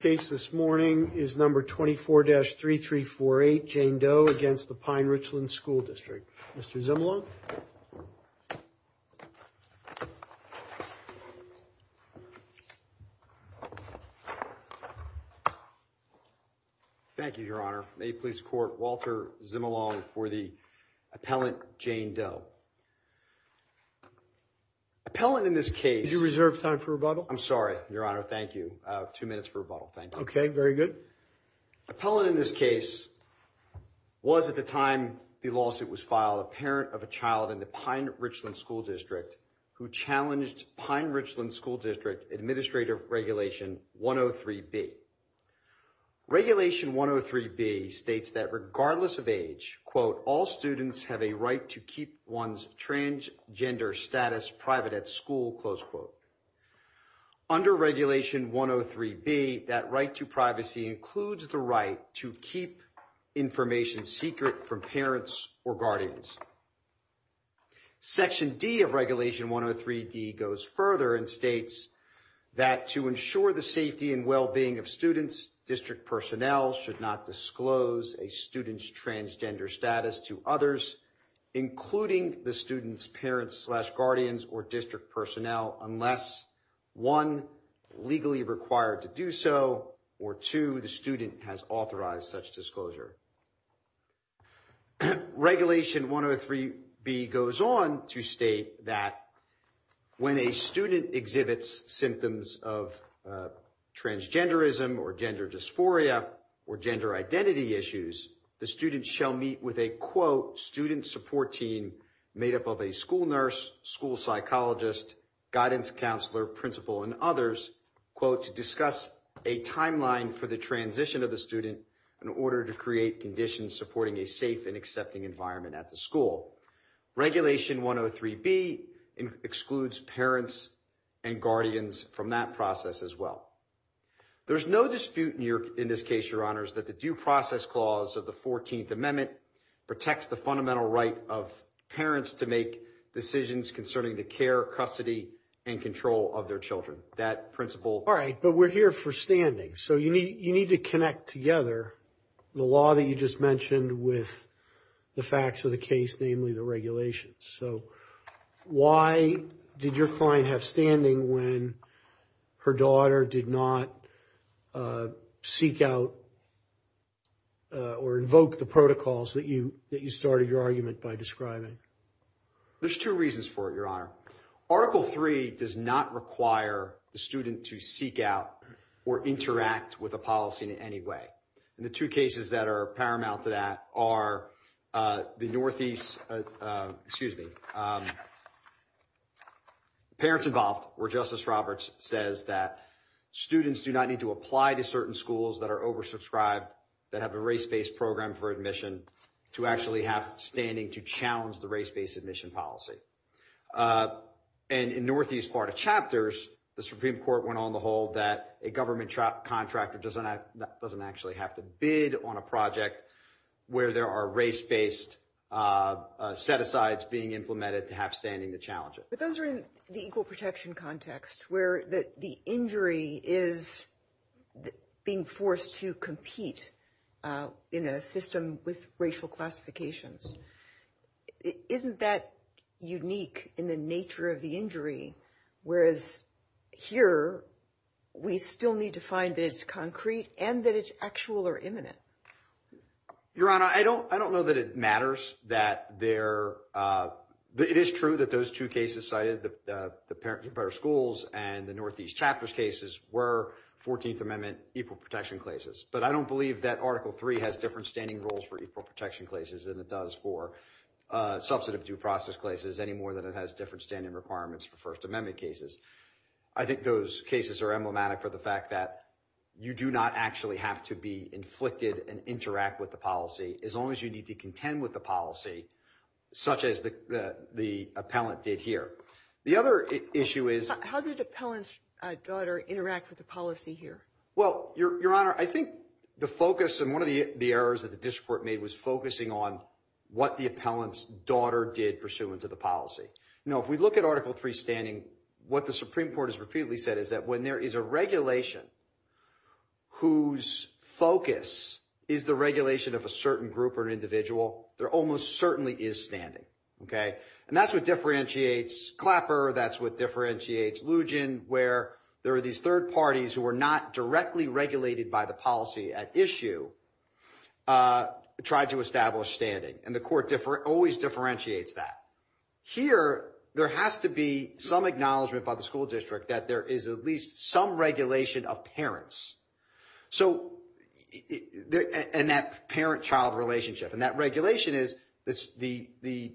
The case this morning is No. 24-3348, Jane Doe v. Pine-Richland School District. Mr. Zimelon. Thank you, Your Honor. May you please court Walter Zimelon for the appellant, Jane Doe. Did you reserve time for rebuttal? I'm sorry, Your Honor. Thank you. Two minutes for rebuttal. Thank you. Okay. Very good. The appellant in this case was, at the time the lawsuit was filed, a parent of a child in the Pine-Richland School District who challenged Pine-Richland School District Administrative Regulation 103B. Regulation 103B states that, regardless of age, Under Regulation 103B, that right to privacy includes the right to keep information secret from parents or guardians. Section D of Regulation 103D goes further and states that, To ensure the safety and well-being of students, district personnel should not disclose a student's transgender status to others, including the student's parents-slash-guardians or district personnel, unless, One, legally required to do so, or two, the student has authorized such disclosure. Regulation 103B goes on to state that, When a student exhibits symptoms of transgenderism or gender dysphoria or gender identity issues, the student shall meet with a, quote, student support team made up of a school nurse, school psychologist, guidance counselor, principal, and others, quote, to discuss a timeline for the transition of the student in order to create conditions supporting a safe and accepting environment at the school. Regulation 103B excludes parents and guardians from that process as well. There's no dispute in this case, Your Honors, that the Due Process Clause of the 14th Amendment protects the fundamental right of parents to make decisions concerning the care, custody, and control of their children. That principle... All right, but we're here for standing. So you need to connect together the law that you just mentioned with the facts of the case, namely the regulations. So why did your client have standing when her daughter did not seek out or invoke the protocols that you started your argument by describing? There's two reasons for it, Your Honor. Article III does not require the student to seek out or interact with a policy in any way. And the two cases that are paramount to that are the Northeast... Excuse me. Parents Involved, where Justice Roberts says that students do not need to apply to certain schools that are oversubscribed, that have a race-based program for admission, to actually have standing to challenge the race-based admission policy. And in Northeast Florida Chapters, the Supreme Court went on the whole that a government contractor doesn't actually have to bid on a project where there are race-based set-asides being implemented to have standing to challenge it. But those are in the equal protection context, where the injury is being forced to compete in a system with racial classifications. Isn't that unique in the nature of the injury, whereas here we still need to find that it's concrete and that it's actual or imminent? Your Honor, I don't know that it matters that there... It is true that those two cases cited, the Parenting for Better Schools and the Northeast Chapters cases, were 14th Amendment equal protection cases. But I don't believe that Article III has different standing rules for equal protection cases than it does for substantive due process cases, any more than it has different standing requirements for First Amendment cases. I think those cases are emblematic for the fact that you do not actually have to be inflicted and interact with the policy, as long as you need to contend with the policy, such as the appellant did here. The other issue is... How did the appellant's daughter interact with the policy here? Well, Your Honor, I think the focus and one of the errors that the district court made was focusing on what the appellant's daughter did pursuant to the policy. Now, if we look at Article III standing, what the Supreme Court has repeatedly said is that when there is a regulation whose focus is the regulation of a certain group or an individual, there almost certainly is standing. And that's what differentiates Clapper. That's what differentiates Lugin, where there are these third parties who are not directly regulated by the policy at issue, try to establish standing. And the court always differentiates that. Here, there has to be some acknowledgment by the school district that there is at least some regulation of parents. And that parent-child relationship. And that regulation is the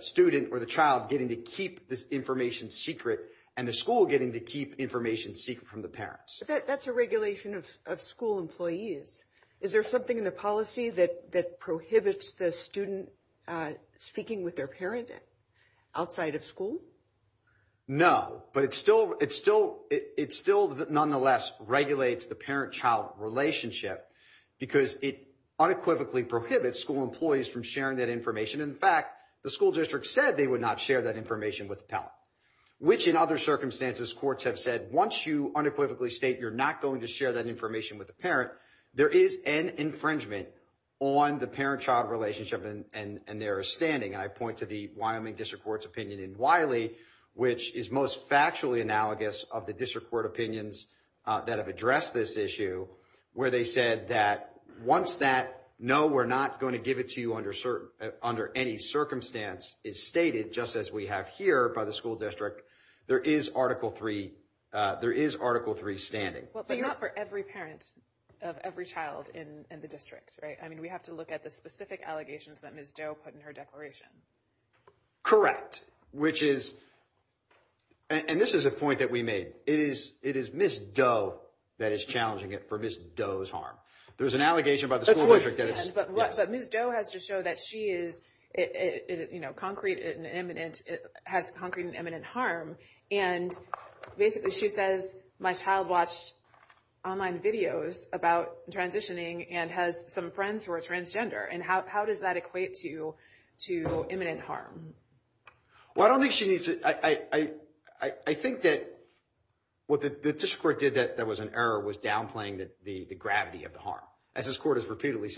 student or the child getting to keep this information secret and the school getting to keep information secret from the parents. That's a regulation of school employees. Is there something in the policy that prohibits the student speaking with their parent outside of school? No, but it still nonetheless regulates the parent-child relationship because it unequivocally prohibits school employees from sharing that information. In fact, the school district said they would not share that information with the appellant, which in other circumstances courts have said once you unequivocally state you're not going to share that information with the parent, there is an infringement on the parent-child relationship and their standing. And I point to the Wyoming District Court's opinion in Wiley, which is most factually analogous of the district court opinions that have addressed this issue, where they said that once that no, we're not going to give it to you under any circumstance is stated, just as we have here by the school district, there is Article 3 standing. But not for every parent of every child in the district, right? I mean, we have to look at the specific allegations that Ms. Doe put in her declaration. Correct, which is, and this is a point that we made, it is Ms. Doe that is challenging it for Ms. Doe's harm. There's an allegation by the school district that it's... ...online videos about transitioning and has some friends who are transgender. And how does that equate to imminent harm? Well, I don't think she needs to... I think that what the district court did that there was an error was downplaying the gravity of the harm. As this court has repeatedly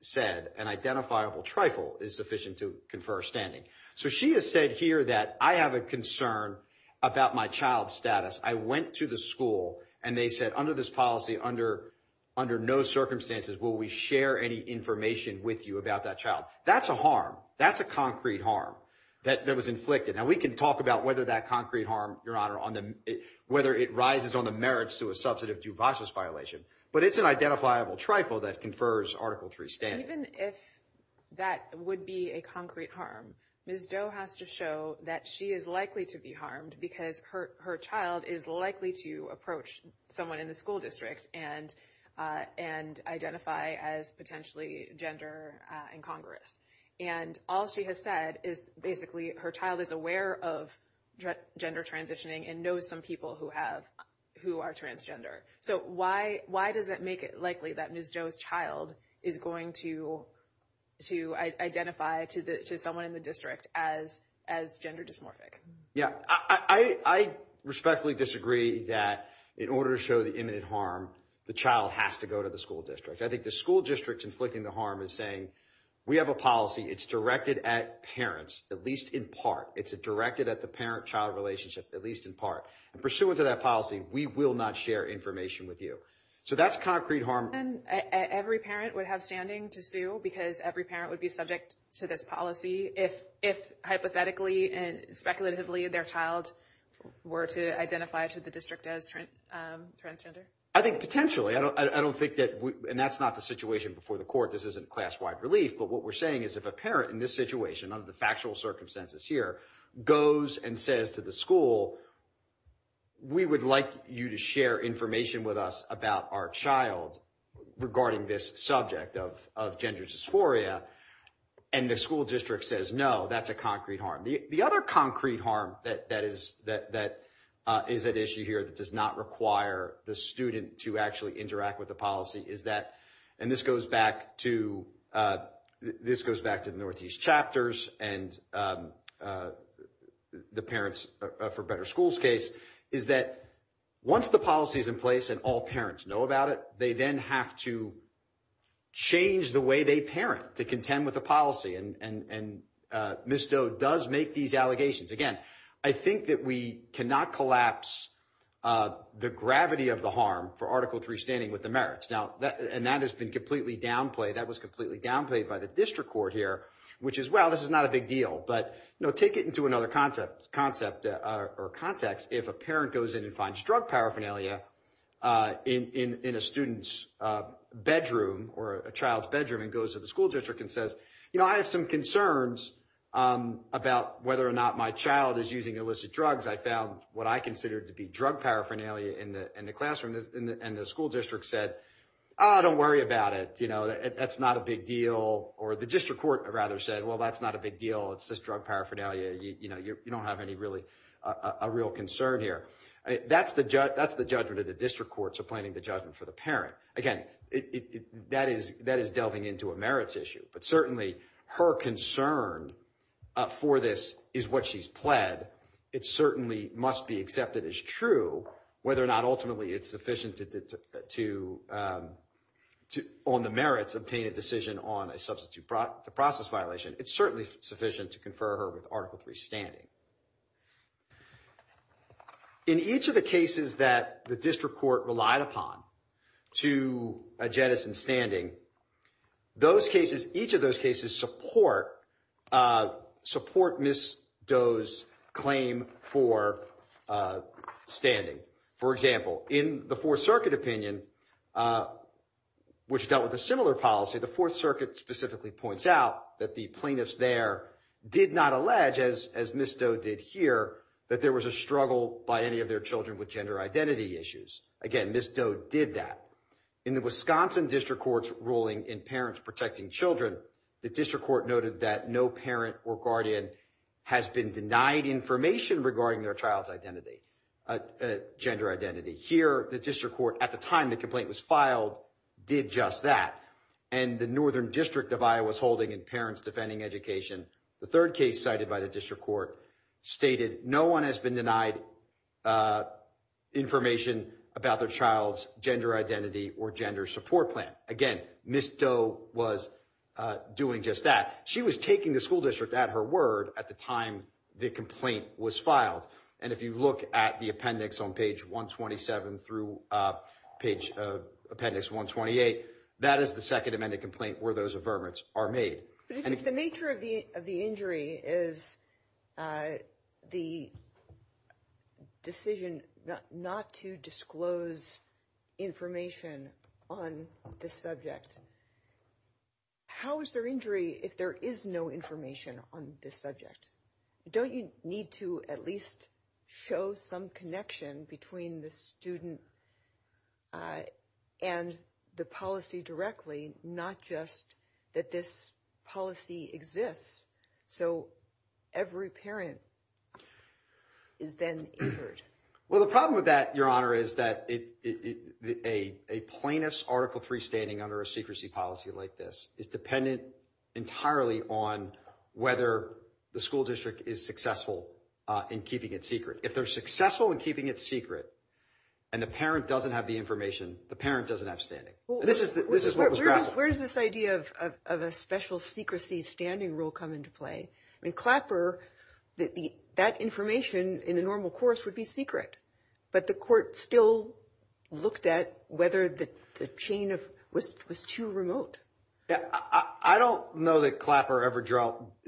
said, an identifiable trifle is sufficient to confer standing. So she has said here that I have a concern about my child's status. I went to the school and they said, under this policy, under no circumstances will we share any information with you about that child. That's a harm. That's a concrete harm that was inflicted. Now, we can talk about whether that concrete harm, Your Honor, whether it rises on the merits to a substantive due process violation. But it's an identifiable trifle that confers Article 3 standing. Even if that would be a concrete harm, Ms. Doe has to show that she is likely to be harmed... ...because her child is likely to approach someone in the school district and identify as potentially gender incongruous. And all she has said is basically her child is aware of gender transitioning and knows some people who are transgender. So why does that make it likely that Ms. Doe's child is going to identify to someone in the district as gender dysmorphic? Yeah, I respectfully disagree that in order to show the imminent harm, the child has to go to the school district. I think the school district's inflicting the harm is saying we have a policy. It's directed at parents, at least in part. It's directed at the parent-child relationship, at least in part. Pursuant to that policy, we will not share information with you. So that's concrete harm. And every parent would have standing to sue because every parent would be subject to this policy... ...if hypothetically and speculatively their child were to identify to the district as transgender? I think potentially. I don't think that... And that's not the situation before the court. This isn't class-wide relief. But what we're saying is if a parent in this situation, under the factual circumstances here, goes and says to the school... ...we would like you to share information with us about our child regarding this subject of gender dysphoria... ...and the school district says no, that's a concrete harm. The other concrete harm that is at issue here that does not require the student to actually interact with the policy is that... ...and this goes back to the Northeast Chapters and the Parents for Better Schools case... ...is that once the policy is in place and all parents know about it... ...they then have to change the way they parent to contend with the policy. And Ms. Doe does make these allegations. Again, I think that we cannot collapse the gravity of the harm for Article 3 standing with the merits. And that has been completely downplayed. That was completely downplayed by the district court here, which is, well, this is not a big deal. But take it into another concept or context. If a parent goes in and finds drug paraphernalia in a student's bedroom or a child's bedroom... ...and goes to the school district and says, you know, I have some concerns about whether or not my child is using illicit drugs. I found what I considered to be drug paraphernalia in the classroom. And the school district said, oh, don't worry about it. You know, that's not a big deal. Or the district court rather said, well, that's not a big deal. It's just drug paraphernalia. You know, you don't have any really a real concern here. That's the judgment of the district courts appointing the judgment for the parent. Again, that is delving into a merits issue. But certainly her concern for this is what she's pled. It certainly must be accepted as true. Whether or not ultimately it's sufficient to, on the merits, obtain a decision on a substitute process violation. It's certainly sufficient to confer her with Article III standing. In each of the cases that the district court relied upon to jettison standing, those cases, each of those cases support Ms. Doe's claim for standing. For example, in the Fourth Circuit opinion, which dealt with a similar policy, the Fourth Circuit specifically points out that the plaintiffs there did not allege, as Ms. Doe did here, that there was a struggle by any of their children with gender identity issues. Again, Ms. Doe did that. In the Wisconsin district court's ruling in Parents Protecting Children, the district court noted that no parent or guardian has been denied information regarding their child's identity, gender identity. Here, the district court, at the time the complaint was filed, did just that. And the Northern District of Iowa's holding in Parents Defending Education, the third case cited by the district court stated no one has been denied information about their child's gender identity or gender support plan. Again, Ms. Doe was doing just that. She was taking the school district at her word at the time the complaint was filed. And if you look at the appendix on page 127 through page appendix 128, that is the Second Amendment complaint where those averments are made. But if the nature of the injury is the decision not to disclose information on this subject, how is there injury if there is no information on this subject? Don't you need to at least show some connection between the student and the policy directly, not just that this policy exists so every parent is then injured? Well, the problem with that, Your Honor, is that a plaintiff's Article III standing under a secrecy policy like this is dependent entirely on whether the school district is successful in keeping it secret. If they're successful in keeping it secret and the parent doesn't have the information, the parent doesn't have standing. This is what was grappled with. Where does this idea of a special secrecy standing rule come into play? I mean, Clapper, that information in the normal course would be secret. But the court still looked at whether the chain was too remote. I don't know that Clapper ever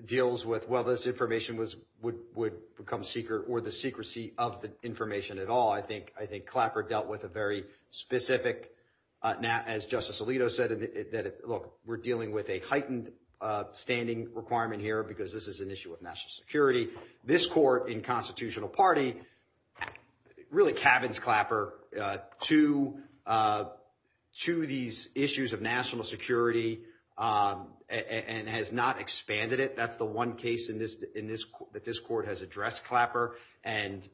deals with whether this information would become secret or the secrecy of the information at all. I think Clapper dealt with a very specific, as Justice Alito said, that, look, we're dealing with a heightened standing requirement here because this is an issue of national security. This court in Constitutional Party really cabins Clapper to these issues of national security and has not expanded it. That's the one case that this court has addressed Clapper. And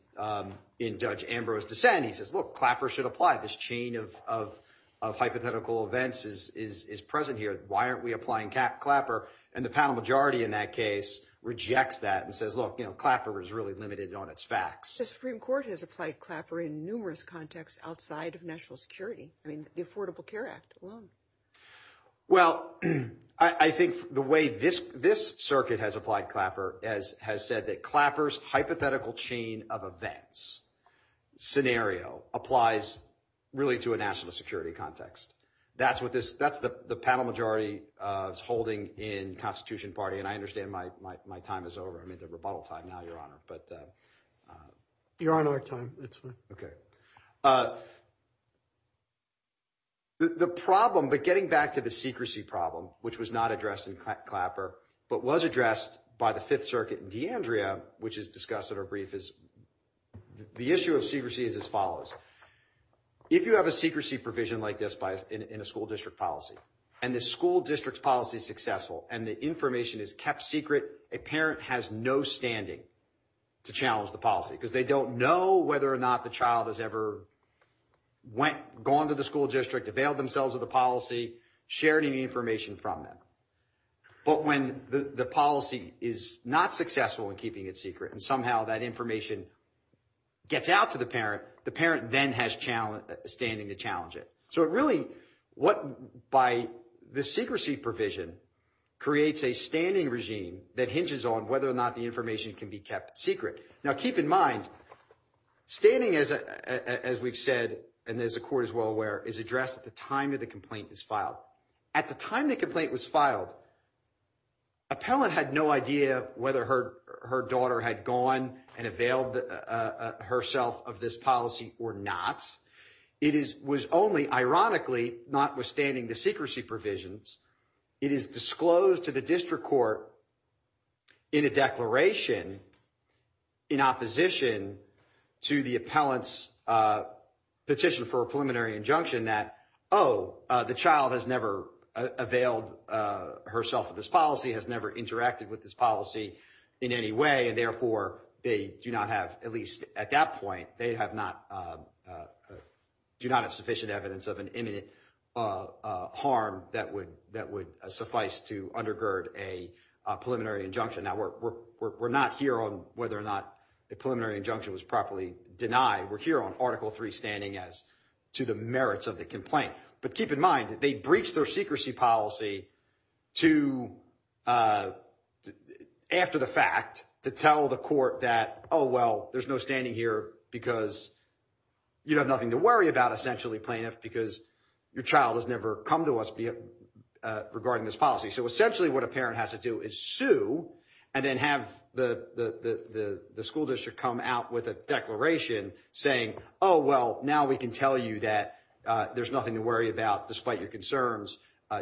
in Judge Ambrose's dissent, he says, look, Clapper should apply. This chain of hypothetical events is present here. Why aren't we applying Clapper? And the panel majority in that case rejects that and says, look, Clapper is really limited on its facts. The Supreme Court has applied Clapper in numerous contexts outside of national security. I mean, the Affordable Care Act alone. Well, I think the way this circuit has applied Clapper has said that Clapper's hypothetical chain of events scenario applies really to a national security context. That's what this that's the panel majority is holding in Constitution Party. And I understand my my my time is over. I mean, the rebuttal time now, Your Honor. But you're on our time. OK. The problem, but getting back to the secrecy problem, which was not addressed in Clapper, but was addressed by the Fifth Circuit in D'Andrea, which is discussed in our brief, is the issue of secrecy is as follows. If you have a secrecy provision like this in a school district policy and the school district's policy is successful and the information is kept secret, a parent has no standing to challenge the policy because they don't know whether or not the child has ever went, gone to the school district, availed themselves of the policy, shared any information from them. But when the policy is not successful in keeping it secret and somehow that information gets out to the parent, the parent then has challenge standing to challenge it. So it really what by the secrecy provision creates a standing regime that hinges on whether or not the information can be kept secret. Now, keep in mind, standing, as we've said, and there's a court as well, where is addressed at the time of the complaint is filed. At the time the complaint was filed, appellant had no idea whether her daughter had gone and availed herself of this policy or not. It was only ironically, notwithstanding the secrecy provisions, it is disclosed to the district court in a declaration in opposition to the appellant's petition for a preliminary injunction that, oh, the child has never availed herself of this policy, has never interacted with this policy in any way, and therefore they do not have, at least at that point, they do not have sufficient evidence of an imminent harm that would suffice to undergird a preliminary injunction. Now, we're not here on whether or not a preliminary injunction was properly denied. We're here on Article III standing as to the merits of the complaint. But keep in mind that they breached their secrecy policy to, after the fact, to tell the court that, oh, well, there's no standing here because you have nothing to worry about, essentially, plaintiff, because your child has never come to us regarding this policy. So essentially what a parent has to do is sue and then have the school district come out with a declaration saying, oh, well, now we can tell you that there's nothing to worry about despite your concerns.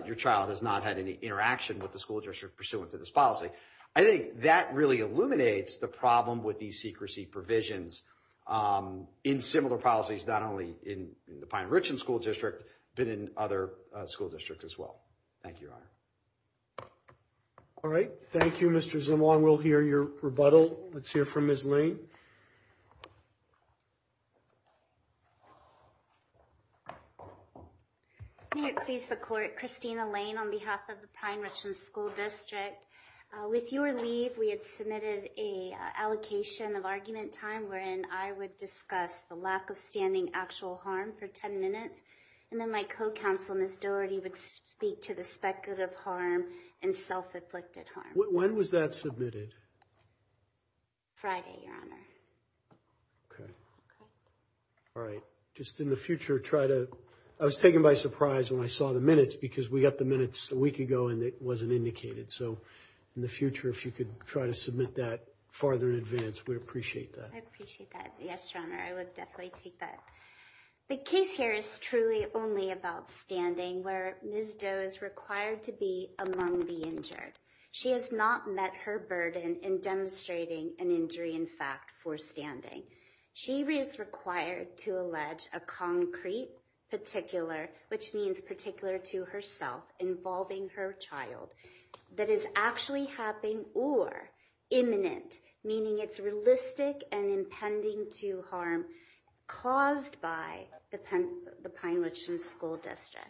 Your child has not had any interaction with the school district pursuant to this policy. I think that really illuminates the problem with these secrecy provisions in similar policies, not only in the Pine-Richland School District, but in other school districts as well. Thank you, Your Honor. All right. Thank you, Mr. Zimwong. We'll hear your rebuttal. Let's hear from Ms. Lane. May it please the court, Christina Lane on behalf of the Pine-Richland School District. With your leave, we had submitted a allocation of argument time wherein I would discuss the lack of standing actual harm for 10 minutes. And then my co-counsel, Ms. Doherty, would speak to the speculative harm and self-inflicted harm. When was that submitted? Friday, Your Honor. Okay. All right. Just in the future, try to – I was taken by surprise when I saw the minutes because we got the minutes a week ago and it wasn't indicated. So in the future, if you could try to submit that farther in advance, we'd appreciate that. I appreciate that. Yes, Your Honor, I would definitely take that. The case here is truly only about standing where Ms. Doherty is required to be among the injured. She has not met her burden in demonstrating an injury in fact for standing. She is required to allege a concrete particular, which means particular to herself, involving her child that is actually happening or imminent, meaning it's realistic and impending to harm caused by the Pine-Richland School District.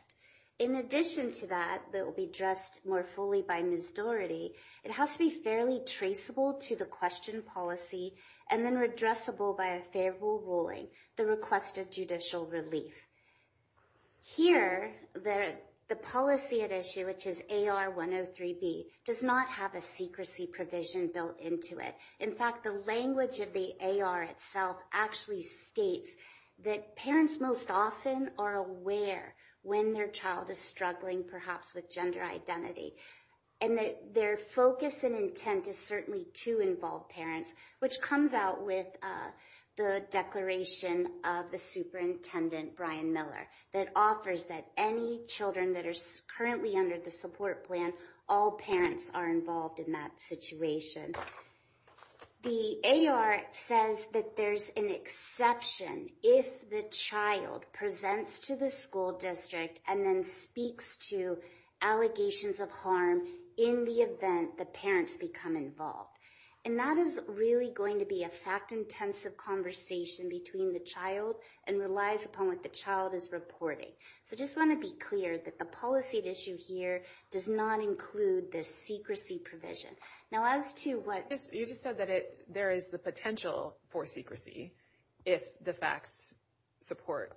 In addition to that, that will be addressed more fully by Ms. Doherty, it has to be fairly traceable to the question policy and then redressable by a favorable ruling, the request of judicial relief. Here, the policy at issue, which is AR 103B, does not have a secrecy provision built into it. In fact, the language of the AR itself actually states that parents most often are aware when their child is struggling, perhaps with gender identity, and that their focus and intent is certainly to involve parents, which comes out with the declaration of the superintendent, Brian Miller, that offers that any children that are currently under the support plan, all parents are involved in that situation. The AR says that there's an exception if the child presents to the school district and then speaks to allegations of harm in the event the parents become involved. And that is really going to be a fact-intensive conversation between the child and relies upon what the child is reporting. So I just want to be clear that the policy at issue here does not include the secrecy provision. Now as to what... You just said that there is the potential for secrecy if the facts support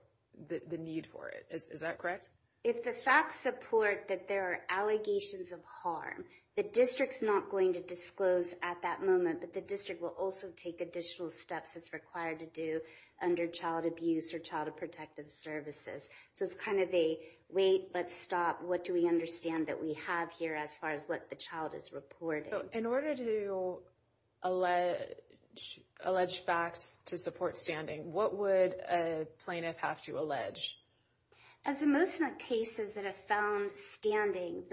the need for it, is that correct? If the facts support that there are allegations of harm, the district's not going to disclose at that moment, but the district will also take additional steps it's required to do under child abuse or child protective services. So it's kind of a wait, let's stop, what do we understand that we have here as far as what the child is reporting? In order to allege facts to support standing, what would a plaintiff have to allege? As the most cases that have found standing,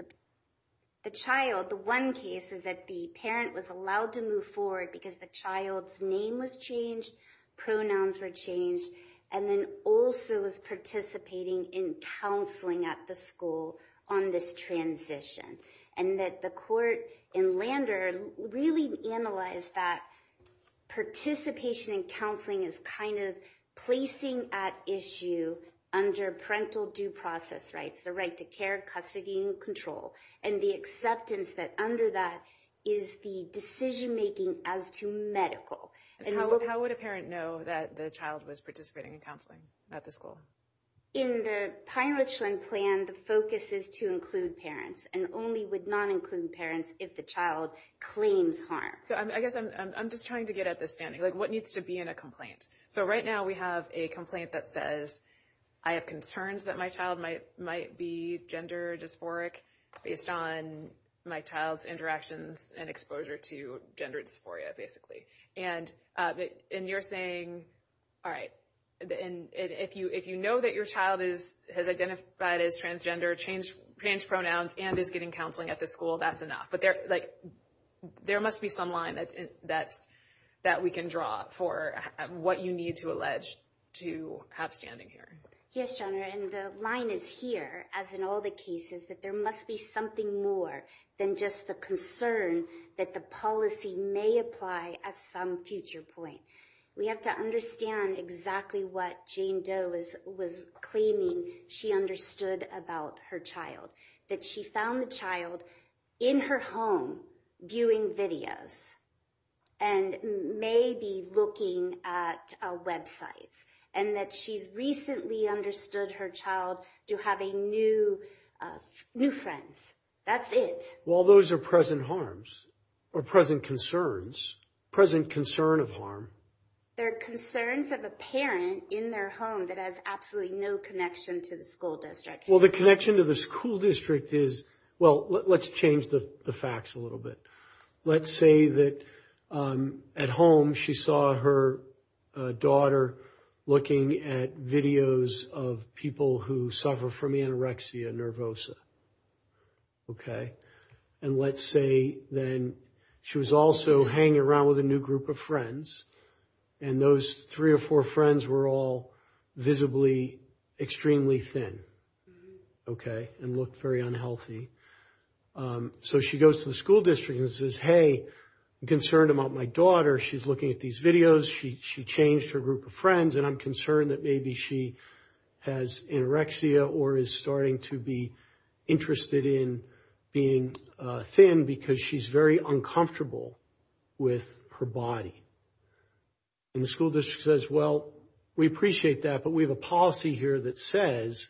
the child, the one case is that the parent was allowed to move forward because the child's name was changed, pronouns were changed, and then also was participating in counseling at the school on this transition. And that the court in Lander really analyzed that participation in counseling is kind of placing at issue under parental due process rights, the right to care, custody, and control, and the acceptance that under that is the decision making as to medical. How would a parent know that the child was participating in counseling at the school? In the Pine Ridgeland plan, the focus is to include parents, and only would not include parents if the child claims harm. I guess I'm just trying to get at the standing, like what needs to be in a complaint? So right now we have a complaint that says, I have concerns that my child might be gender dysphoric based on my child's interactions and exposure to gender dysphoria, basically. And you're saying, all right, if you know that your child has identified as transgender, changed pronouns, and is getting counseling at the school, that's enough. But there must be some line that we can draw for what you need to allege to have standing here. Yes, your honor, and the line is here, as in all the cases, that there must be something more than just the concern that the policy may apply at some future point. We have to understand exactly what Jane Doe was claiming she understood about her child. That she found the child in her home viewing videos, and maybe looking at websites, and that she's recently understood her child to have new friends. That's it. Well, those are present harms, or present concerns, present concern of harm. They're concerns of a parent in their home that has absolutely no connection to the school district. Well, the connection to the school district is, well, let's change the facts a little bit. Let's say that at home she saw her daughter looking at videos of people who suffer from anorexia nervosa, okay? And let's say then she was also hanging around with a new group of friends, and those three or four friends were all visibly extremely thin, okay? And looked very unhealthy. So she goes to the school district and says, hey, I'm concerned about my daughter. She's looking at these videos. She changed her group of friends, and I'm concerned that maybe she has anorexia or is starting to be interested in being thin because she's very uncomfortable with her body. And the school district says, well, we appreciate that, but we have a policy here that says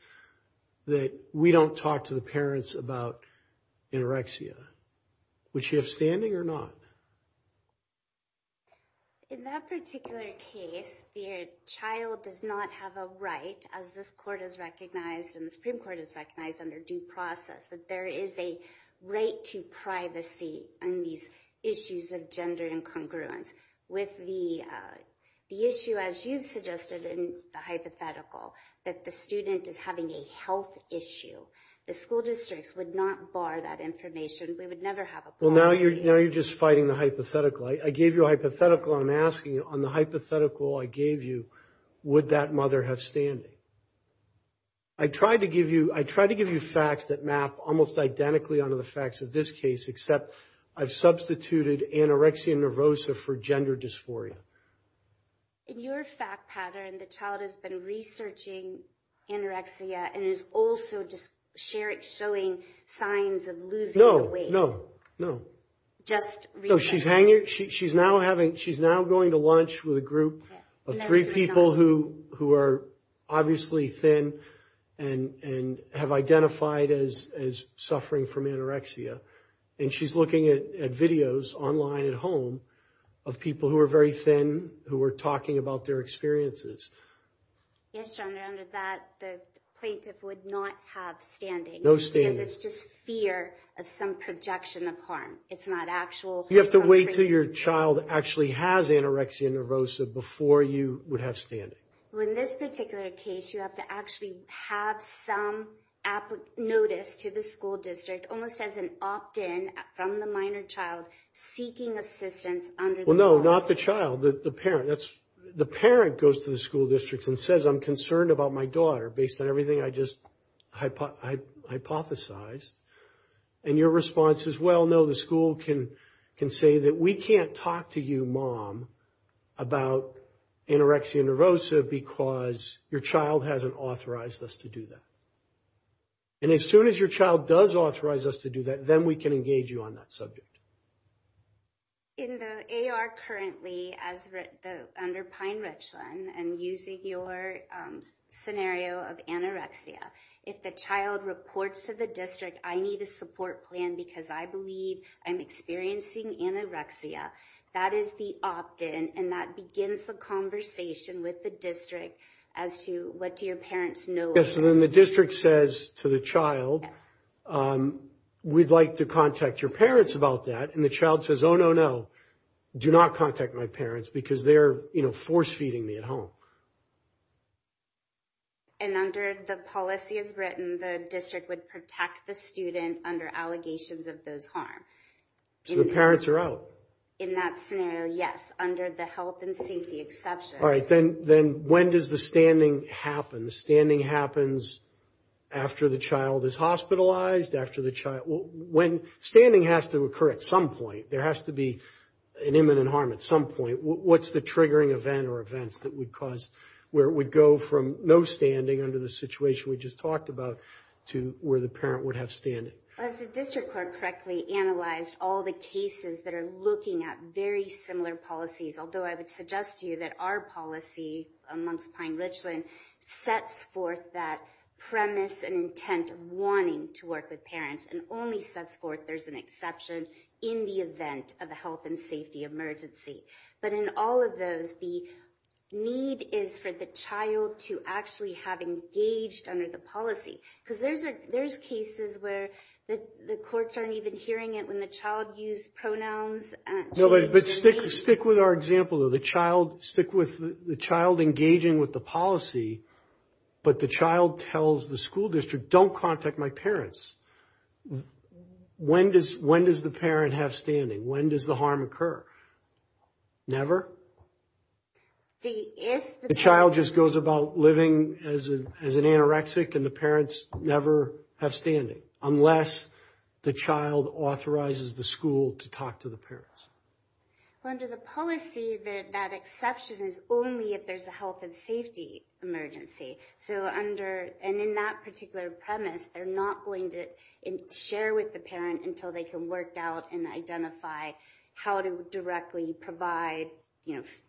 that we don't talk to the parents about anorexia. Would she have standing or not? In that particular case, the child does not have a right, as this court has recognized and the Supreme Court has recognized under due process, that there is a right to privacy on these issues of gender incongruence. With the issue, as you've suggested in the hypothetical, that the student is having a health issue, the school districts would not bar that information. We would never have a policy. Well, now you're just fighting the hypothetical. I gave you a hypothetical. I'm asking you, on the hypothetical I gave you, would that mother have standing? I tried to give you facts that map almost identically onto the facts of this case, except I've substituted anorexia nervosa for gender dysphoria. In your fact pattern, the child has been researching anorexia and is also showing signs of losing weight. No, no, no. She's now going to lunch with a group of three people who are obviously thin and have identified as suffering from anorexia. She's looking at videos online at home of people who are very thin who are talking about their experiences. Yes, Your Honor, under that, the plaintiff would not have standing. No standing. Because it's just fear of some projection of harm. It's not actual. You have to wait until your child actually has anorexia nervosa before you would have standing. Well, in this particular case, you have to actually have some notice to the school district, almost as an opt-in from the minor child seeking assistance under the law. Well, no, not the child, the parent. The parent goes to the school district and says, I'm concerned about my daughter based on everything I just hypothesized. And your response is, well, no, the school can say that we can't talk to you, mom, about anorexia nervosa because your child hasn't authorized us to do that. And as soon as your child does authorize us to do that, then we can engage you on that subject. In the AR currently, under Pine Richland, and using your scenario of anorexia, if the child reports to the district, I need a support plan because I believe I'm experiencing anorexia, that is the opt-in. And that begins the conversation with the district as to what do your parents know. Yes, and then the district says to the child, we'd like to contact your parents about that. And the child says, oh, no, no, do not contact my parents because they're force-feeding me at home. And under the policy as written, the district would protect the student under allegations of those harm. So the parents are out. In that scenario, yes, under the health and safety exception. All right, then when does the standing happen? The standing happens after the child is hospitalized, after the child, when, standing has to occur at some point. There has to be an imminent harm at some point. What's the triggering event or events that would cause, where it would go from no standing under the situation we just talked about to where the parent would have standing? Has the district court correctly analyzed all the cases that are looking at very similar policies? Although I would suggest to you that our policy amongst Pine-Richland sets forth that premise and intent of wanting to work with parents. And only sets forth there's an exception in the event of a health and safety emergency. But in all of those, the need is for the child to actually have engaged under the policy. Because there's cases where the courts aren't even hearing it when the child used pronouns. No, but stick with our example. The child engaging with the policy, but the child tells the school district, don't contact my parents. When does the parent have standing? When does the harm occur? Never? The child just goes about living as an anorexic and the parents never have standing. Unless the child authorizes the school to talk to the parents. Under the policy, that exception is only if there's a health and safety emergency. And in that particular premise, they're not going to share with the parent until they can work out and identify how to directly provide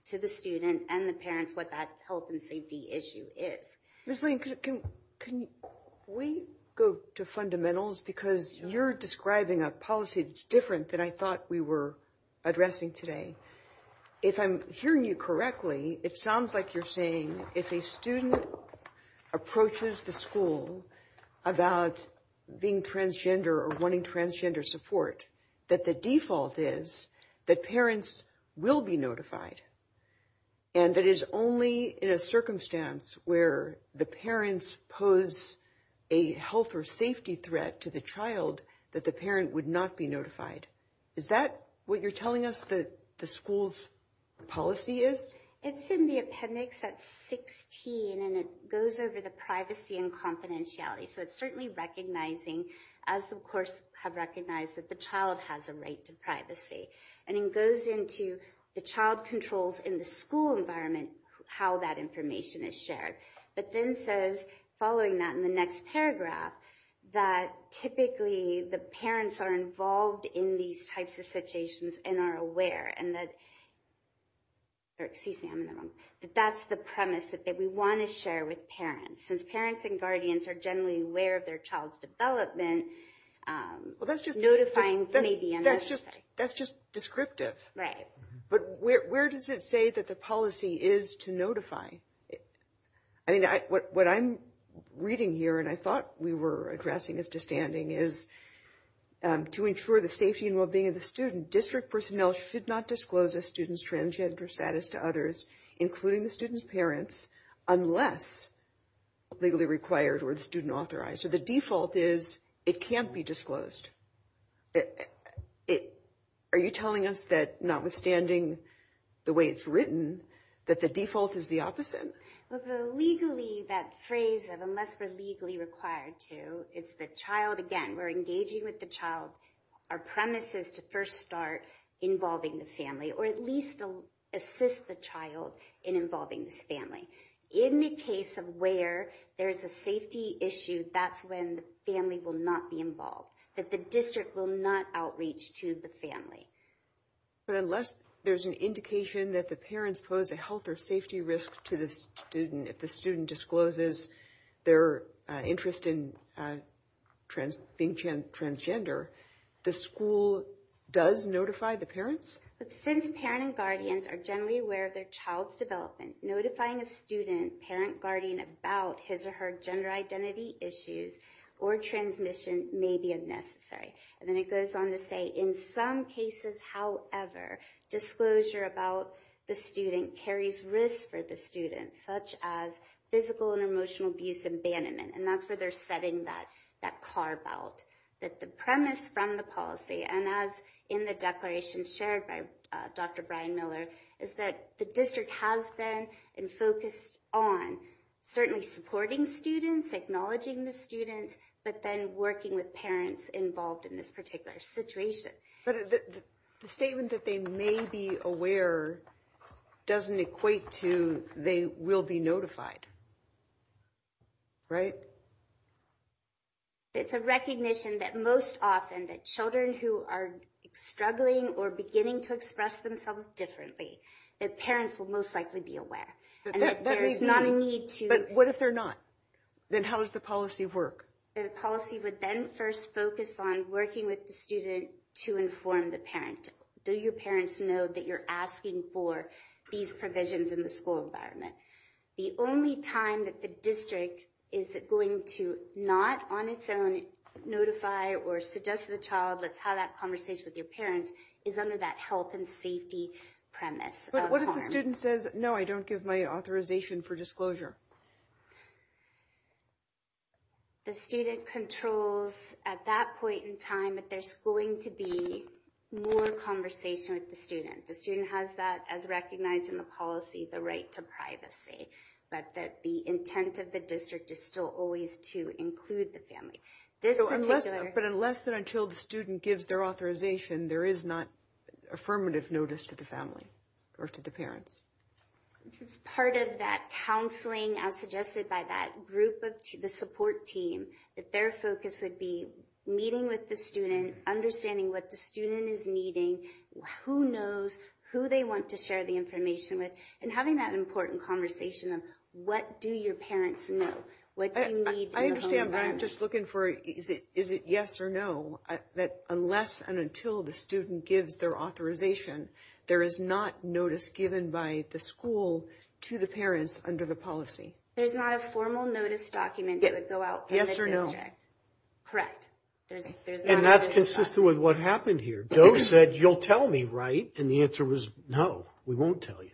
to the student and the parents what that health and safety issue is. Ms. Lane, can we go to fundamentals? Because you're describing a policy that's different than I thought we were addressing today. If I'm hearing you correctly, it sounds like you're saying if a student approaches the school about being transgender or wanting transgender support, that the default is that parents will be notified. And that is only in a circumstance where the parents pose a health or safety threat to the child that the parent would not be notified. Is that what you're telling us the school's policy is? It's in the appendix at 16 and it goes over the privacy and confidentiality. So it's certainly recognizing, as the course has recognized, that the child has a right to privacy. And it goes into the child controls in the school environment, how that information is shared. But then says, following that in the next paragraph, that typically the parents are involved in these types of situations and are aware. And that's the premise that we want to share with parents. Since parents and guardians are generally aware of their child's development, notifying may be unnecessary. That's just descriptive. Right. But where does it say that the policy is to notify? I mean, what I'm reading here, and I thought we were addressing as to standing, is to ensure the safety and well-being of the student, district personnel should not disclose a student's transgender status to others, including the student's parents, unless legally required or the student authorized. So the default is it can't be disclosed. Are you telling us that, notwithstanding the way it's written, that the default is the opposite? Legally, that phrase, unless we're legally required to, it's the child. Again, we're engaging with the child. Our premise is to first start involving the family or at least assist the child in involving this family. In the case of where there is a safety issue, that's when the family will not be involved. That the district will not outreach to the family. But unless there's an indication that the parents pose a health or safety risk to the student, if the student discloses their interest in being transgender, the school does notify the parents? Since parents and guardians are generally aware of their child's development, notifying a student, parent, guardian about his or her gender identity issues or transmission may be unnecessary. And then it goes on to say, in some cases, however, disclosure about the student carries risk for the student, such as physical and emotional abuse and abandonment. And that's where they're setting that carve out. That the premise from the policy, and as in the declaration shared by Dr. Brian Miller, is that the district has been focused on certainly supporting students, acknowledging the students, but then working with parents involved in this particular situation. But the statement that they may be aware doesn't equate to they will be notified, right? It's a recognition that most often that children who are struggling or beginning to express themselves differently, their parents will most likely be aware. And that there is not a need to... But what if they're not? Then how does the policy work? The policy would then first focus on working with the student to inform the parent. Do your parents know that you're asking for these provisions in the school environment? The only time that the district is going to not on its own notify or suggest to the child, let's have that conversation with your parents, is under that health and safety premise. But what if the student says, no, I don't give my authorization for disclosure? The student controls at that point in time that there's going to be more conversation with the student. The student has that as recognized in the policy, the right to privacy, but that the intent of the district is still always to include the family. But unless and until the student gives their authorization, there is not affirmative notice to the family or to the parents? It's part of that counseling, as suggested by that group of the support team, that their focus would be meeting with the student, understanding what the student is needing, who knows who they want to share the information with, and having that important conversation of what do your parents know? What do you need in the home environment? I understand, but I'm just looking for is it yes or no, that unless and until the student gives their authorization, there is not notice given by the school to the parents under the policy? There's not a formal notice document that would go out from the district? Yes or no. Correct. And that's consistent with what happened here. Doe said, you'll tell me, right? And the answer was, no, we won't tell you.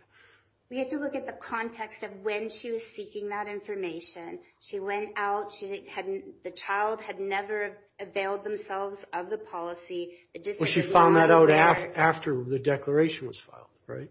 We had to look at the context of when she was seeking that information. She went out, the child had never availed themselves of the policy. Well, she found that out after the declaration was filed, right?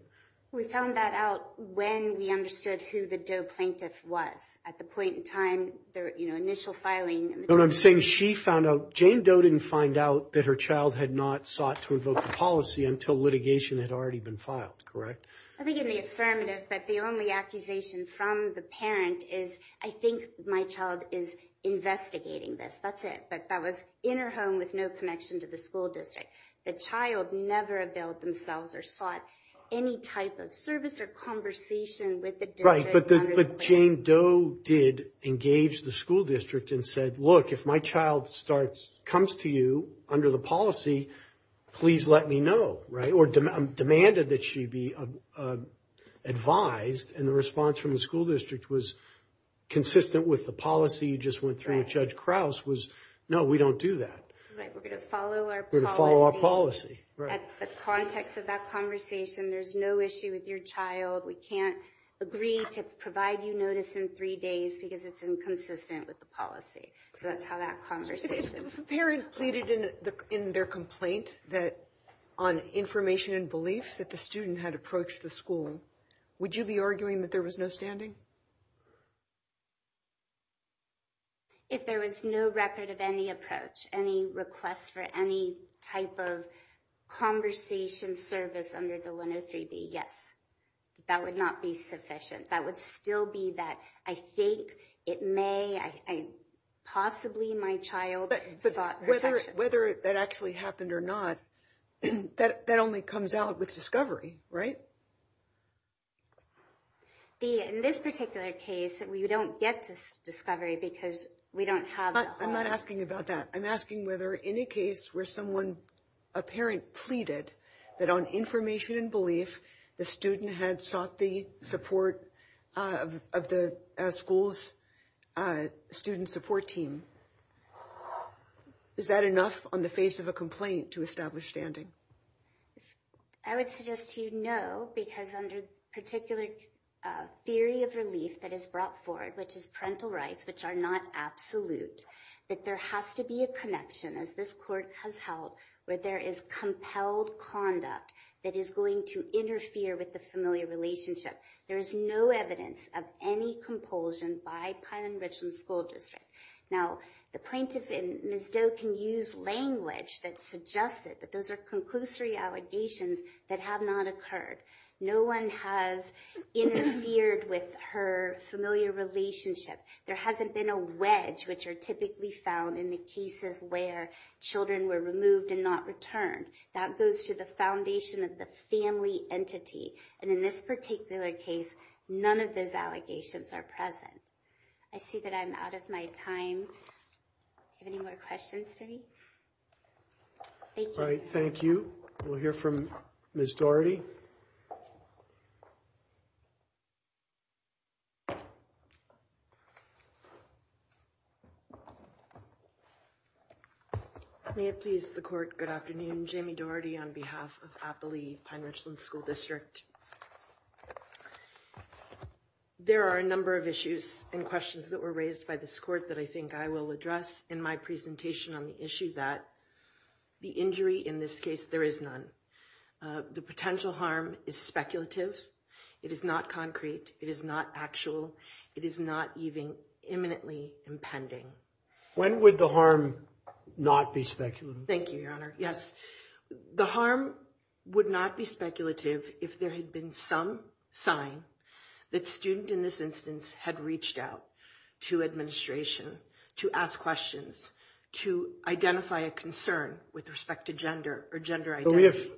We found that out when we understood who the Doe plaintiff was at the point in time, their initial filing. What I'm saying is she found out, Jane Doe didn't find out that her child had not sought to invoke the policy until litigation had already been filed, correct? I think in the affirmative, but the only accusation from the parent is, I think my child is investigating this. That's it. But that was in her home with no connection to the school district. The child never availed themselves or sought any type of service or conversation with the district. But Jane Doe did engage the school district and said, look, if my child comes to you under the policy, please let me know, right? Or demanded that she be advised. And the response from the school district was consistent with the policy you just went through with Judge Krause was, no, we don't do that. Right, we're going to follow our policy. We're going to follow our policy. At the context of that conversation, there's no issue with your child. We can't agree to provide you notice in three days because it's inconsistent with the policy. So that's how that conversation. If the parent pleaded in their complaint on information and belief that the student had approached the school, would you be arguing that there was no standing? If there was no record of any approach, any request for any type of conversation service under the 103B, yes. That would not be sufficient. That would still be that I think it may, possibly my child sought protection. But whether that actually happened or not, that only comes out with discovery, right? In this particular case, you don't get discovery because we don't have the whole. I'm not asking about that. I'm asking whether in a case where someone, a parent pleaded that on information and belief, the student had sought the support of the school's student support team. Is that enough on the face of a complaint to establish standing? I would suggest to you no because under particular theory of relief that is brought forward, which is parental rights, which are not absolute, that there has to be a connection, as this court has held, where there is compelled conduct that is going to interfere with the familial relationship. There is no evidence of any compulsion by Pilon-Richland School District. Now, the plaintiff in Ms. Doe can use language that suggested that those are conclusory allegations that have not occurred. No one has interfered with her familiar relationship. There hasn't been a wedge, which are typically found in the cases where children were removed and not returned. That goes to the foundation of the family entity. And in this particular case, none of those allegations are present. I see that I'm out of my time. Any more questions for me? Thank you. All right, thank you. We'll hear from Ms. Doherty. May it please the court. Good afternoon. Jamie Doherty on behalf of Appali Pine-Richland School District. There are a number of issues and questions that were raised by this court that I think I will address in my presentation on the issue that the injury in this case, there is none. The potential harm is speculative. It is not concrete. It is not actual. It is not even imminently impending. When would the harm not be speculative? Thank you, Your Honor. Yes. The harm would not be speculative if there had been some sign that student in this instance had reached out to administration to ask questions, to identify a concern with respect to gender or gender identity.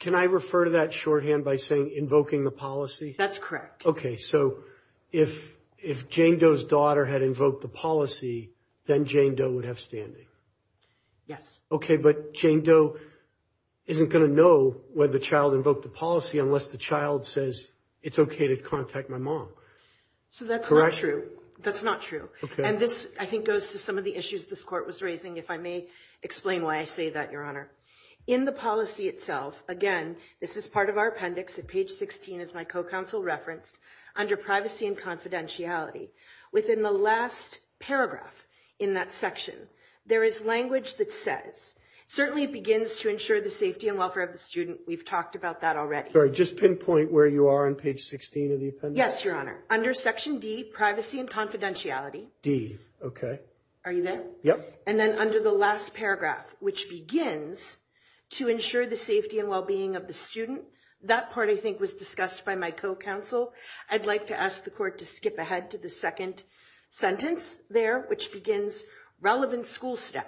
Can I refer to that shorthand by saying invoking the policy? That's correct. Okay. So if Jane Doe's daughter had invoked the policy, then Jane Doe would have standing? Yes. Okay. But Jane Doe isn't going to know whether the child invoked the policy unless the child says it's okay to contact my mom. So that's not true. That's not true. Okay. And this I think goes to some of the issues this court was raising, if I may explain why I say that, Your Honor. In the policy itself, again, this is part of our appendix at page 16, as my co-counsel referenced, under privacy and confidentiality. Within the last paragraph in that section, there is language that says, certainly it begins to ensure the safety and welfare of the student. We've talked about that already. Just pinpoint where you are on page 16 of the appendix? Yes, Your Honor. Under section D, privacy and confidentiality. D. Okay. Are you there? Yep. And then under the last paragraph, which begins to ensure the safety and well-being of the student, that part I think was discussed by my co-counsel. I'd like to ask the court to skip ahead to the second sentence there, which begins, relevant school staff,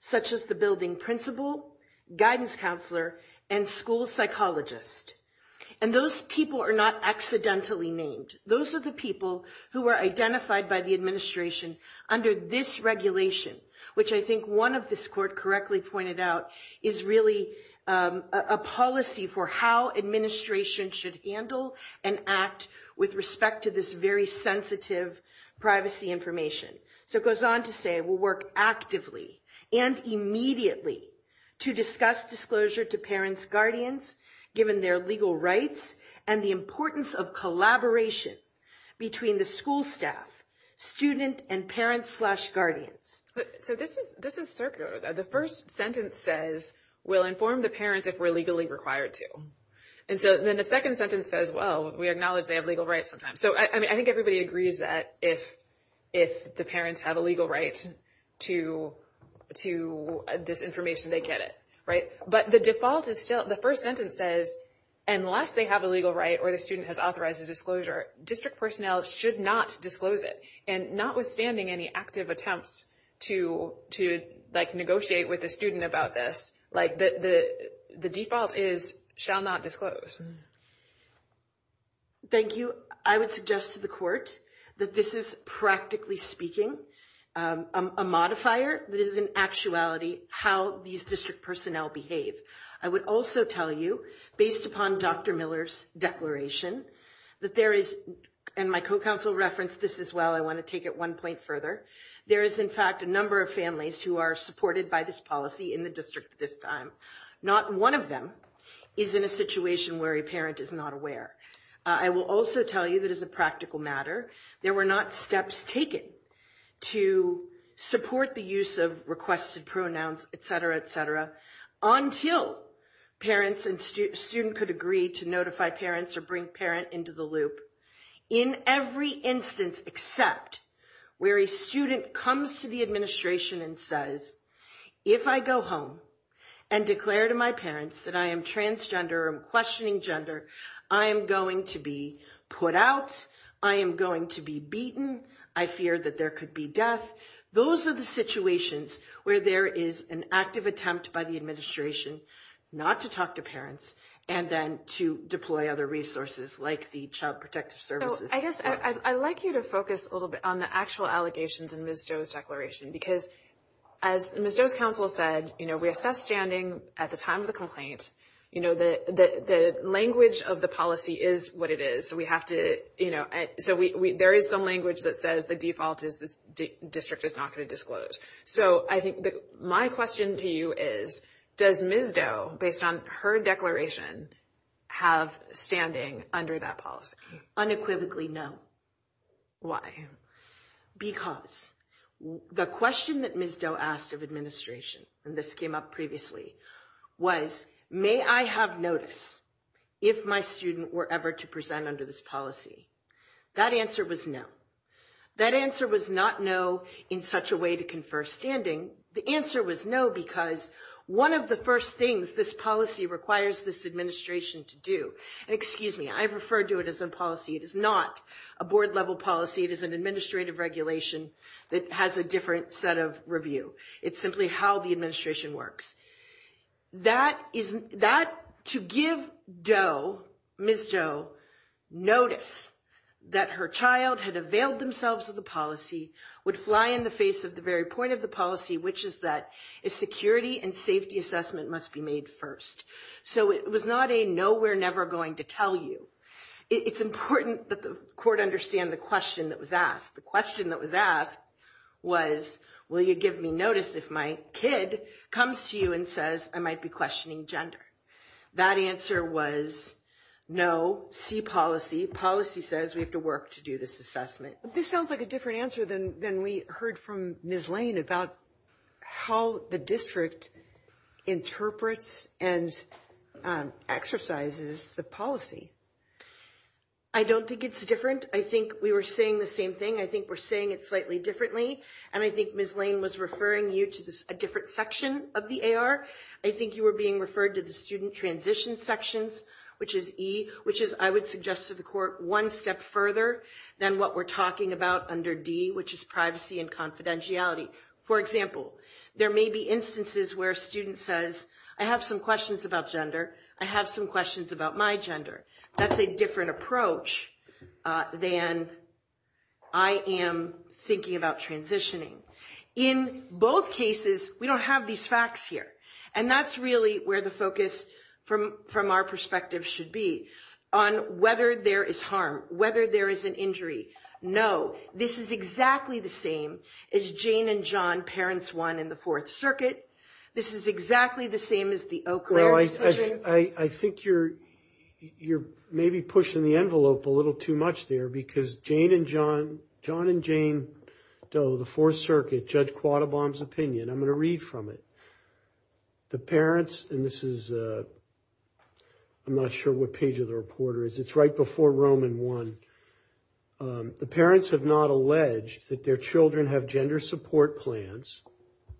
such as the building principal, guidance counselor, and school psychologist. And those people are not accidentally named. Those are the people who are identified by the administration under this regulation, which I think one of this court correctly pointed out is really a policy for how administration should handle and act with respect to this very sensitive privacy information. So it goes on to say, we'll work actively and immediately to discuss disclosure to parents' guardians, given their legal rights, and the importance of collaboration between the school staff, student, and parents slash guardians. So this is circular. The first sentence says, we'll inform the parents if we're legally required to. And so then the second sentence says, well, we acknowledge they have legal rights sometimes. So I think everybody agrees that if the parents have a legal right to this information, they get it. But the default is still, the first sentence says, unless they have a legal right or the student has authorized a disclosure, district personnel should not disclose it. And notwithstanding any active attempts to negotiate with the student about this, the default is, shall not disclose. Thank you. I would suggest to the court that this is, practically speaking, a modifier that is in actuality how these district personnel behave. I would also tell you, based upon Dr. Miller's declaration, that there is, and my co-counsel referenced this as well, I want to take it one point further. There is, in fact, a number of families who are supported by this policy in the district at this time. Not one of them is in a situation where a parent is not aware. I will also tell you that as a practical matter, there were not steps taken to support the use of requested pronouns, et cetera, et cetera, until parents and student could agree to notify parents or bring parent into the loop. In every instance except where a student comes to the administration and says, if I go home and declare to my parents that I am transgender or I'm questioning gender, I am going to be put out, I am going to be beaten, I fear that there could be death. Those are the situations where there is an active attempt by the administration not to talk to parents and then to deploy other resources like the Child Protective Services. I guess I'd like you to focus a little bit on the actual allegations in Ms. Joe's declaration because as Ms. Joe's counsel said, we assess standing at the time of the complaint, the language of the policy is what it is. There is some language that says the default is the district is not going to disclose. My question to you is, does Ms. Joe, based on her declaration, have standing under that policy? Unequivocally, no. Why? Because the question that Ms. Joe asked of administration and this came up previously was, may I have notice if my student were ever to present under this policy? That answer was no. That answer was not no in such a way to confer standing. The answer was no because one of the first things this policy requires this administration to do. Excuse me. I refer to it as a policy. It is not a board level policy. It is an administrative regulation that has a different set of review. It's simply how the administration works. That to give Ms. Joe notice that her child had availed themselves of the policy would fly in the face of the very point of the policy, which is that a security and safety assessment must be made first. So it was not a no, we're never going to tell you. It's important that the court understand the question that was asked. The question that was asked was, will you give me notice if my kid comes to you and says I might be questioning gender? That answer was no. See policy. Policy says we have to work to do this assessment. This sounds like a different answer than we heard from Ms. Lane about how the district interprets and exercises the policy. I don't think it's different. I think we were saying the same thing. I think we're saying it slightly differently. And I think Ms. Lane was referring you to a different section of the AR. I think you were being referred to the student transition sections, which is E, which is I would suggest to the court one step further than what we're talking about under D, which is privacy and confidentiality. For example, there may be instances where a student says I have some questions about gender. I have some questions about my gender. That's a different approach than I am thinking about transitioning. In both cases, we don't have these facts here. And that's really where the focus from our perspective should be on whether there is harm, whether there is an injury. No, this is exactly the same as Jane and John Perrins won in the Fourth Circuit. This is exactly the same as the Eau Claire decision. I think you're maybe pushing the envelope a little too much there because Jane and John, John and Jane Doe, the Fourth Circuit, Judge Quattlebaum's opinion, I'm going to read from it. The parents, and this is, I'm not sure what page of the reporter is. It's right before Roman 1. The parents have not alleged that their children have gender support plans.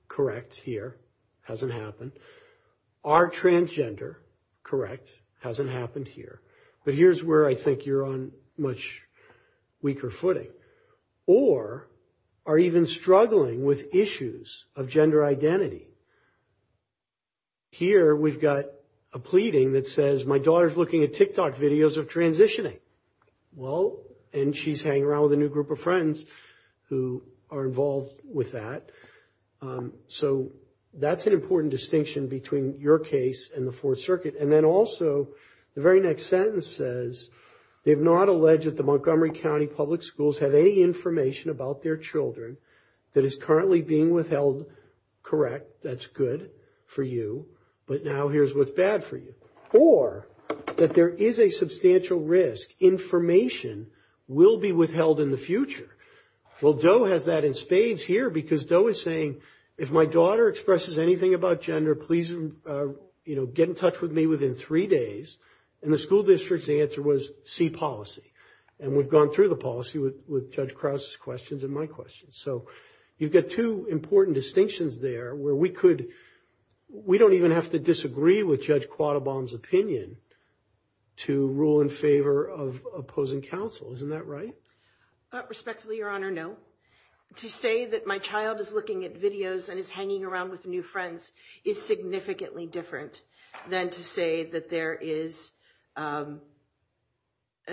Correct here. Hasn't happened. Are transgender? Correct. Hasn't happened here. But here's where I think you're on much weaker footing. Or are even struggling with issues of gender identity. Here we've got a pleading that says my daughter's looking at TikTok videos of transitioning. Well, and she's hanging around with a new group of friends who are involved with that. So that's an important distinction between your case and the Fourth Circuit. And then also the very next sentence says they have not alleged that the Montgomery County Public Schools have any information about their children that is currently being withheld. Correct. That's good for you. But now here's what's bad for you. Or that there is a substantial risk. Information will be withheld in the future. Well, Doe has that in spades here because Doe is saying if my daughter expresses anything about gender, please get in touch with me within three days. And the school district's answer was C, policy. And we've gone through the policy with Judge Krause's questions and my questions. So you've got two important distinctions there where we could we don't even have to disagree with Judge Quattlebaum's opinion to rule in favor of opposing counsel. Isn't that right? Respectfully, Your Honor, no. To say that my child is looking at videos and is hanging around with new friends is significantly different than to say that there is a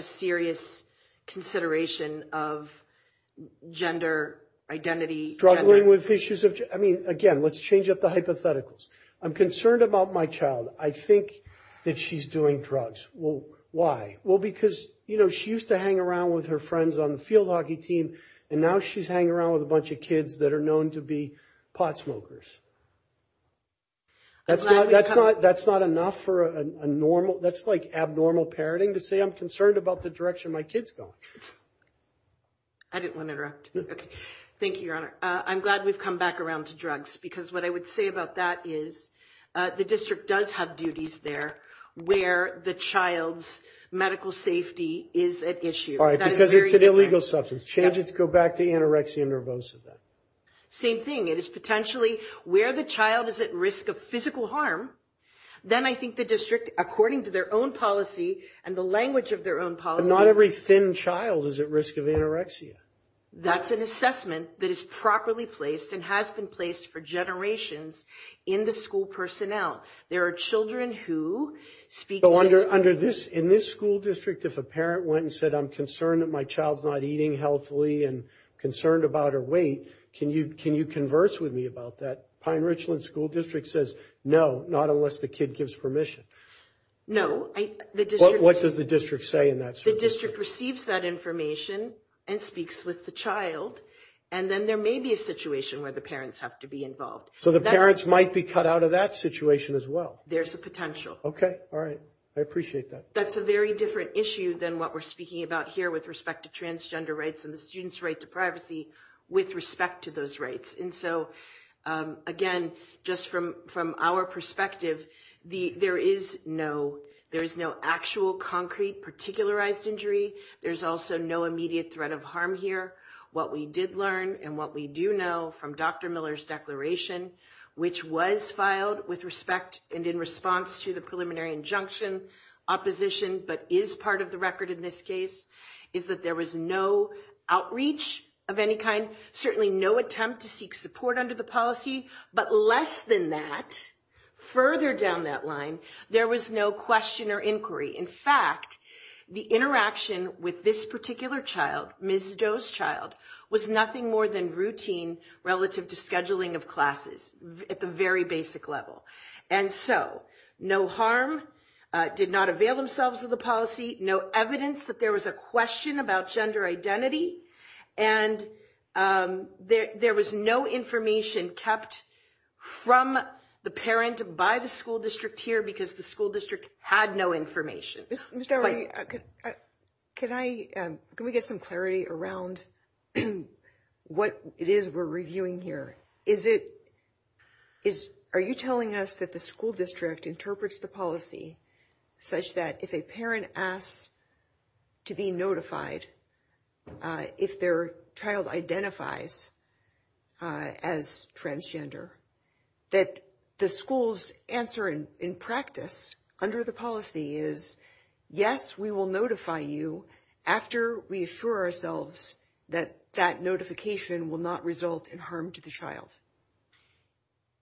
serious consideration of gender identity. Struggling with issues of, I mean, again, let's change up the hypotheticals. I'm concerned about my child. I think that she's doing drugs. Well, why? Well, because, you know, she used to hang around with her friends on the field hockey team. And now she's hanging around with a bunch of kids that are known to be pot smokers. That's not that's not that's not enough for a normal. That's like abnormal parenting to say I'm concerned about the direction my kids go. I didn't want to interrupt. Thank you, Your Honor. I'm glad we've come back around to drugs, because what I would say about that is the district does have duties there where the child's medical safety is at issue. Because it's an illegal substance. Change it to go back to anorexia nervosa. Same thing. It is potentially where the child is at risk of physical harm. Then I think the district, according to their own policy and the language of their own policy, not every thin child is at risk of anorexia. That's an assessment that is properly placed and has been placed for generations in the school personnel. There are children who speak under under this in this school district. If a parent went and said, I'm concerned that my child's not eating healthily and concerned about her weight. Can you can you converse with me about that? Pine Richland School District says no, not unless the kid gives permission. No. What does the district say in that? The district receives that information and speaks with the child. And then there may be a situation where the parents have to be involved. So the parents might be cut out of that situation as well. There's a potential. OK. All right. I appreciate that. That's a very different issue than what we're speaking about here with respect to transgender rights and the students right to privacy with respect to those rights. And so, again, just from from our perspective, the there is no there is no actual concrete particularized injury. There's also no immediate threat of harm here. What we did learn and what we do know from Dr. Miller's declaration, which was filed with respect and in response to the preliminary injunction opposition. But is part of the record in this case is that there was no outreach of any kind, certainly no attempt to seek support under the policy. But less than that, further down that line, there was no question or inquiry. In fact, the interaction with this particular child, Ms. Joe's child, was nothing more than routine relative to scheduling of classes at the very basic level. And so no harm did not avail themselves of the policy. No evidence that there was a question about gender identity. And there was no information kept from the parent by the school district here because the school district had no information. Can I can we get some clarity around what it is we're reviewing here? Is it is are you telling us that the school district interprets the policy such that if a parent asks to be notified, if their child identifies as transgender, that the school's answer in practice under the policy is, yes, we will notify you after we assure ourselves that that notification will not result in harm to the child.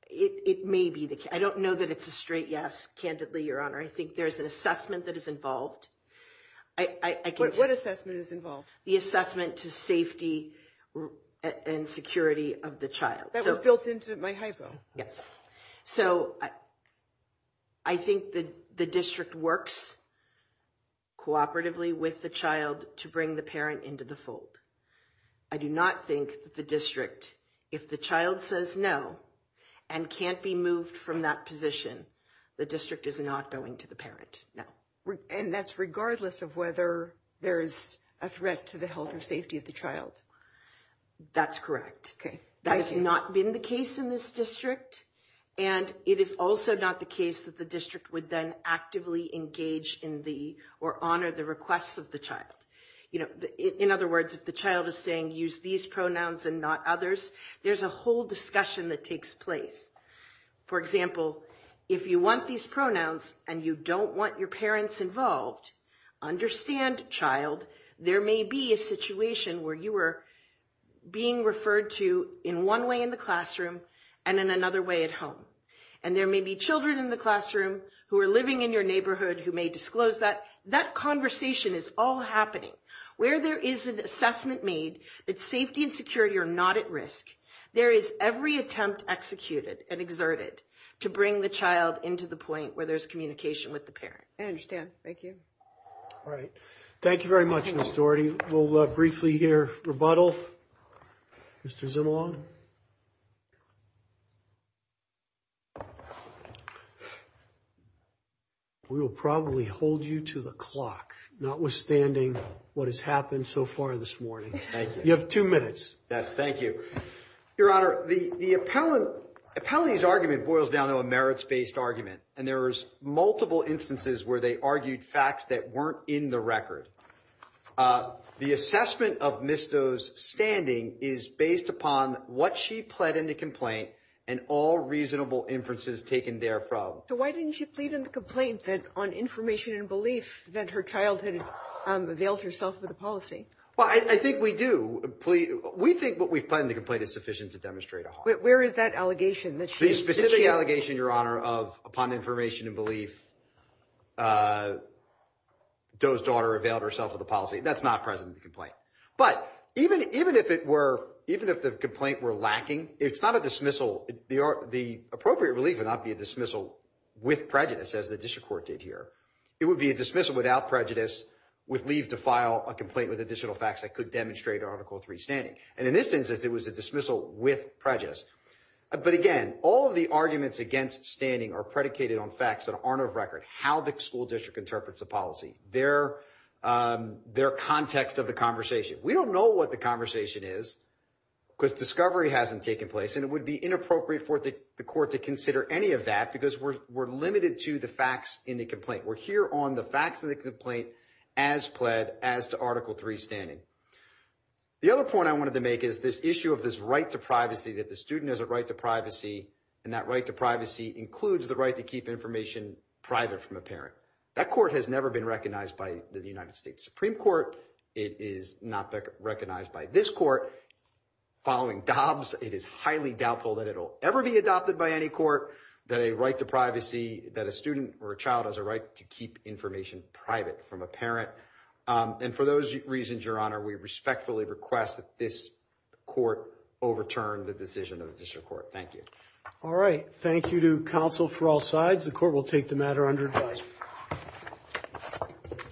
It may be that I don't know that it's a straight yes. Candidly, Your Honor, I think there is an assessment that is involved. What assessment is involved? The assessment to safety and security of the child. That was built into my hypo. Yes. So I think that the district works cooperatively with the child to bring the parent into the fold. I do not think the district, if the child says no and can't be moved from that position, the district is not going to the parent. No. And that's regardless of whether there is a threat to the health or safety of the child. That's correct. OK. That has not been the case in this district. And it is also not the case that the district would then actively engage in the or honor the requests of the child. You know, in other words, if the child is saying use these pronouns and not others, there's a whole discussion that takes place. For example, if you want these pronouns and you don't want your parents involved, understand, child, there may be a situation where you are being referred to in one way in the classroom and in another way at home. And there may be children in the classroom who are living in your neighborhood who may disclose that that conversation is all happening where there is an assessment made that safety and security are not at risk. There is every attempt executed and exerted to bring the child into the point where there's communication with the parent. I understand. Thank you. All right. Thank you very much. Miss Doherty. We'll briefly hear rebuttal. Mr. Zimalong. We will probably hold you to the clock, notwithstanding what has happened so far this morning. Thank you. You have two minutes. Yes. Thank you, Your Honor. The appellant appellee's argument boils down to a merits based argument. And there is multiple instances where they argued facts that weren't in the record. The assessment of Misto's standing is based upon what she pled in the complaint and all reasonable inferences taken there from. So why didn't you plead in the complaint that on information and belief that her child had veiled herself with a policy? Well, I think we do. We think what we've pled in the complaint is sufficient to demonstrate a harm. Where is that allegation? The specific allegation, Your Honor, of upon information and belief, Doe's daughter veiled herself with a policy. That's not present in the complaint. But even if it were, even if the complaint were lacking, it's not a dismissal. The appropriate relief would not be a dismissal with prejudice, as the district court did here. It would be a dismissal without prejudice with leave to file a complaint with additional facts that could demonstrate Article 3 standing. And in this instance, it was a dismissal with prejudice. But again, all of the arguments against standing are predicated on facts that aren't of record, how the school district interprets a policy, their context of the conversation. We don't know what the conversation is because discovery hasn't taken place. And it would be inappropriate for the court to consider any of that because we're limited to the facts in the complaint. We're here on the facts of the complaint as pled as to Article 3 standing. The other point I wanted to make is this issue of this right to privacy, that the student has a right to privacy, and that right to privacy includes the right to keep information private from a parent. That court has never been recognized by the United States Supreme Court. It is not recognized by this court. Following Dobbs, it is highly doubtful that it will ever be adopted by any court that a right to privacy, that a student or a child has a right to keep information private from a parent. And for those reasons, Your Honor, we respectfully request that this court overturn the decision of the district court. Thank you. All right. Thank you to counsel for all sides. The court will take the matter under advice.